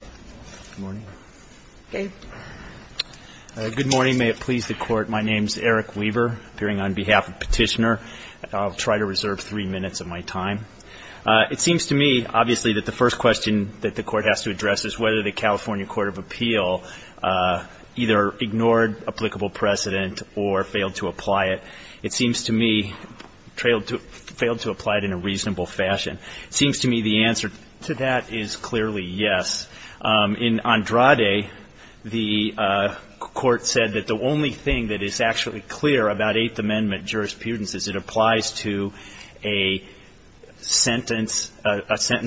Good morning. May it please the Court, my name is Eric Weaver, appearing on behalf of Petitioner. I'll try to reserve three minutes of my time. It seems to me, obviously, that the first question that the Court has to address is whether the California Court of Appeal either ignored applicable precedent or failed to apply it. It seems to me, failed to apply it in a reasonable fashion. It seems to me the answer to that is clearly yes. In Andrade, the Court said that the only thing that is actually clear about Eighth Amendment jurisprudence is it applies to a sentence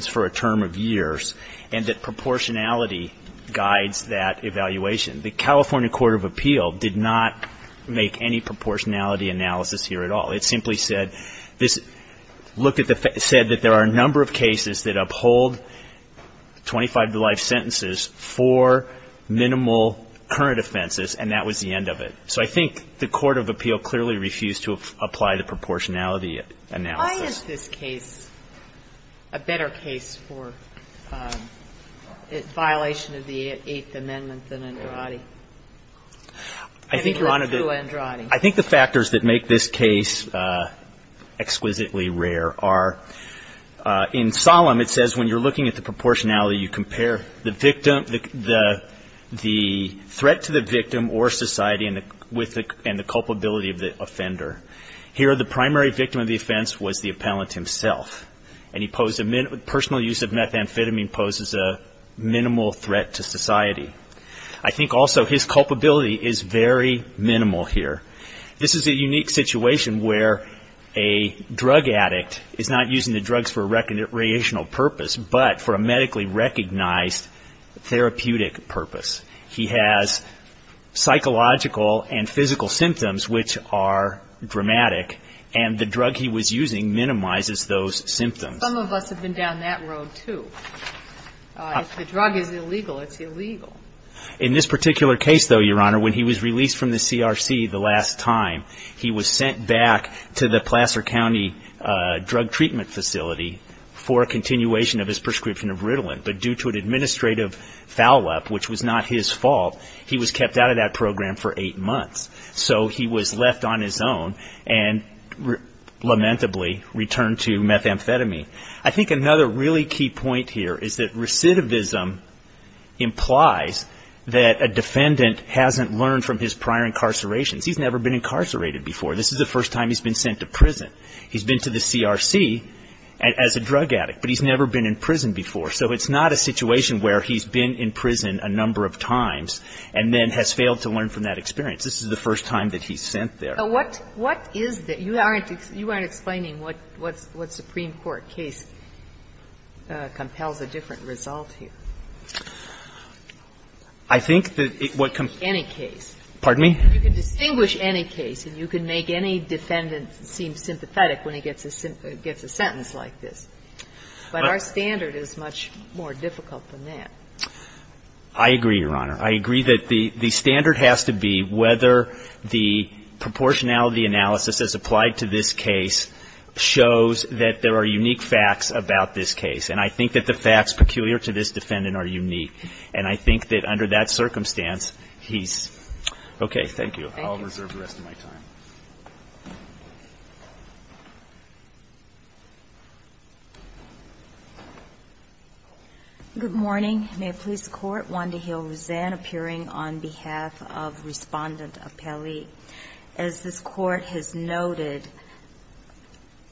for a term of years and that proportionality guides that evaluation. The California Court of Appeal did not make any proportionality analysis here at all. It simply said this, looked at the, said that there are a number of cases that uphold 25-to-life sentences for minimal current offenses, and that was the end of it. So I think the Court of Appeal clearly refused to apply the proportionality analysis. Sotomayor Why is this case a better case for violation of the Eighth Amendment than Andrade? I think, Your Honor, I think the factors that make this case exquisitely rare are, in Solem, it says when you're looking at the proportionality, you compare the victim, the threat to the victim or society and the culpability of the offender. Here, the primary victim of the offense was the appellant himself. And he posed, personal use of methamphetamine poses a minimal threat to society. I think also his culpability is very minimal here. This is a unique situation where a drug addict is not using the drugs for a recreational purpose, but for a medically recognized therapeutic purpose. He has psychological and physical symptoms which are dramatic, and the drug he was using minimizes those symptoms. Some of us have been down that road, too. If the drug is illegal, it's illegal. In this particular case, though, Your Honor, when he was released from the CRC the last time, he was sent back to the Placer County drug treatment facility for a continuation of his prescription of Ritalin. But due to an administrative foul-up, which was not his fault, he was kept out of that program for eight months. So he was left on his own and lamentably returned to methamphetamine. I think another really key point here is that recidivism implies that a defendant hasn't learned from his prior incarcerations. He's never been incarcerated before. This is the first time he's been sent to prison. He's been to the CRC as a drug addict, but he's never been in prison before. So it's not a situation where he's been in prison a number of times and then has failed to learn from that experience. This is the first time that he's sent there. But what is that? You aren't explaining what Supreme Court case compels a different result here. I think that what compels any case. Pardon me? You can distinguish any case, and you can make any defendant seem sympathetic when he gets a sentence like this. I agree, Your Honor. I agree that the standard has to be whether the proportionality analysis as applied to this case shows that there are unique facts about this case. And I think that the facts peculiar to this defendant are unique. And I think that under that circumstance, he's okay. Thank you. I'll reserve the rest of my time. Good morning. May it please the Court. Wanda Hill Rosanne appearing on behalf of Respondent Appelli. As this Court has noted,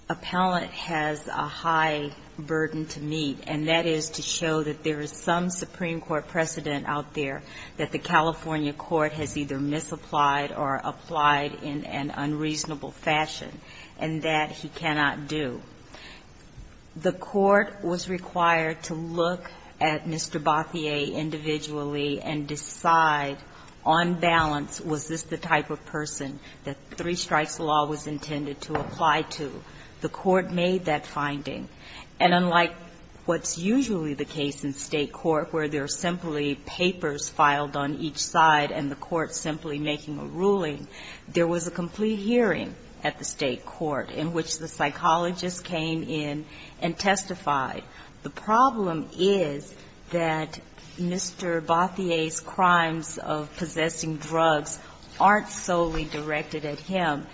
appellant has a high burden to meet, and that is to show that there is some Supreme Court precedent out there that the California court has either misapplied or applied in an unreasonable fashion, and that he cannot do. The court was required to look at Mr. Bothier individually and decide on balance was this the type of person that three strikes law was intended to apply to. The court made that finding. And unlike what's usually the case in State court, where there are simply papers filed on each side and the court simply making a ruling, there was a complete hearing at the State court in which the psychologist came in and testified. The problem is that Mr. Bothier's crimes of possessing drugs aren't solely directed at him.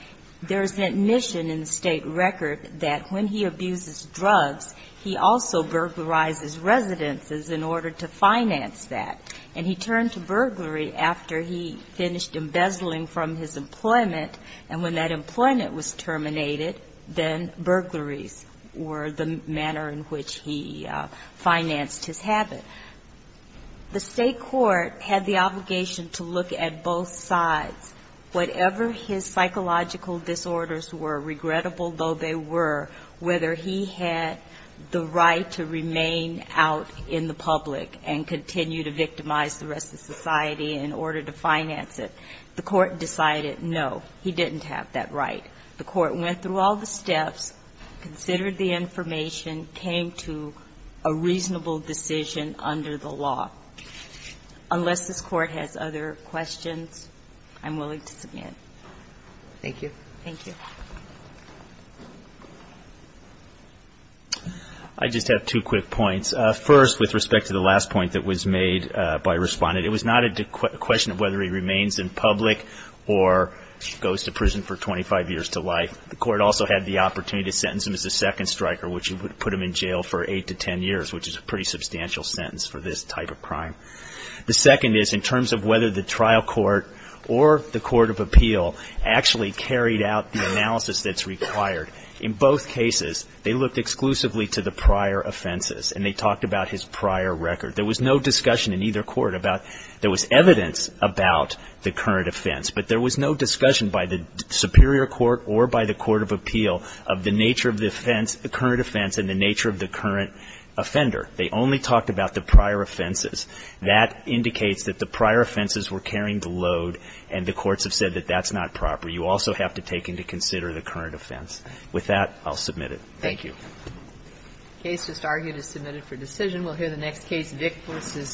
There's admission in the State record that when he abuses drugs, he also burglarizes residences in order to finance that. And he turned to burglary after he finished embezzling from his employment. And when that employment was terminated, then burglaries were the manner in which he financed his habit. The State court had the obligation to look at both sides, whatever his psychological disorders were, regrettable though they were, whether he had the right to remain out in the public and continue to victimize the rest of society in order to finance it. The court decided no, he didn't have that right. The court went through all the steps, considered the information, came to a reasonable decision under the law. Unless this Court has other questions, I'm willing to submit. Thank you. Thank you. I just have two quick points. First, with respect to the last point that was made by a respondent, it was not a question of whether he remains in public or goes to prison for 25 years to life. The court also had the opportunity to sentence him as a second striker, which would put him in jail for eight to ten years, which is a pretty substantial sentence for this type of crime. The second is in terms of whether the trial court or the court of appeal actually carried out the analysis that's required, in both cases they looked exclusively to the prior offenses and they talked about his prior record. There was no discussion in either court about, there was evidence about the current offense, but there was no discussion by the superior court or by the court of appeal of the nature of the offense, the current offense and the nature of the current offender. They only talked about the prior offenses. That indicates that the prior offenses were carrying the load, and the courts have said that that's not proper. You also have to take into consider the current offense. With that, I'll submit it. Thank you. The case just argued is submitted for decision. We'll hear the next case, Vick v. Vick.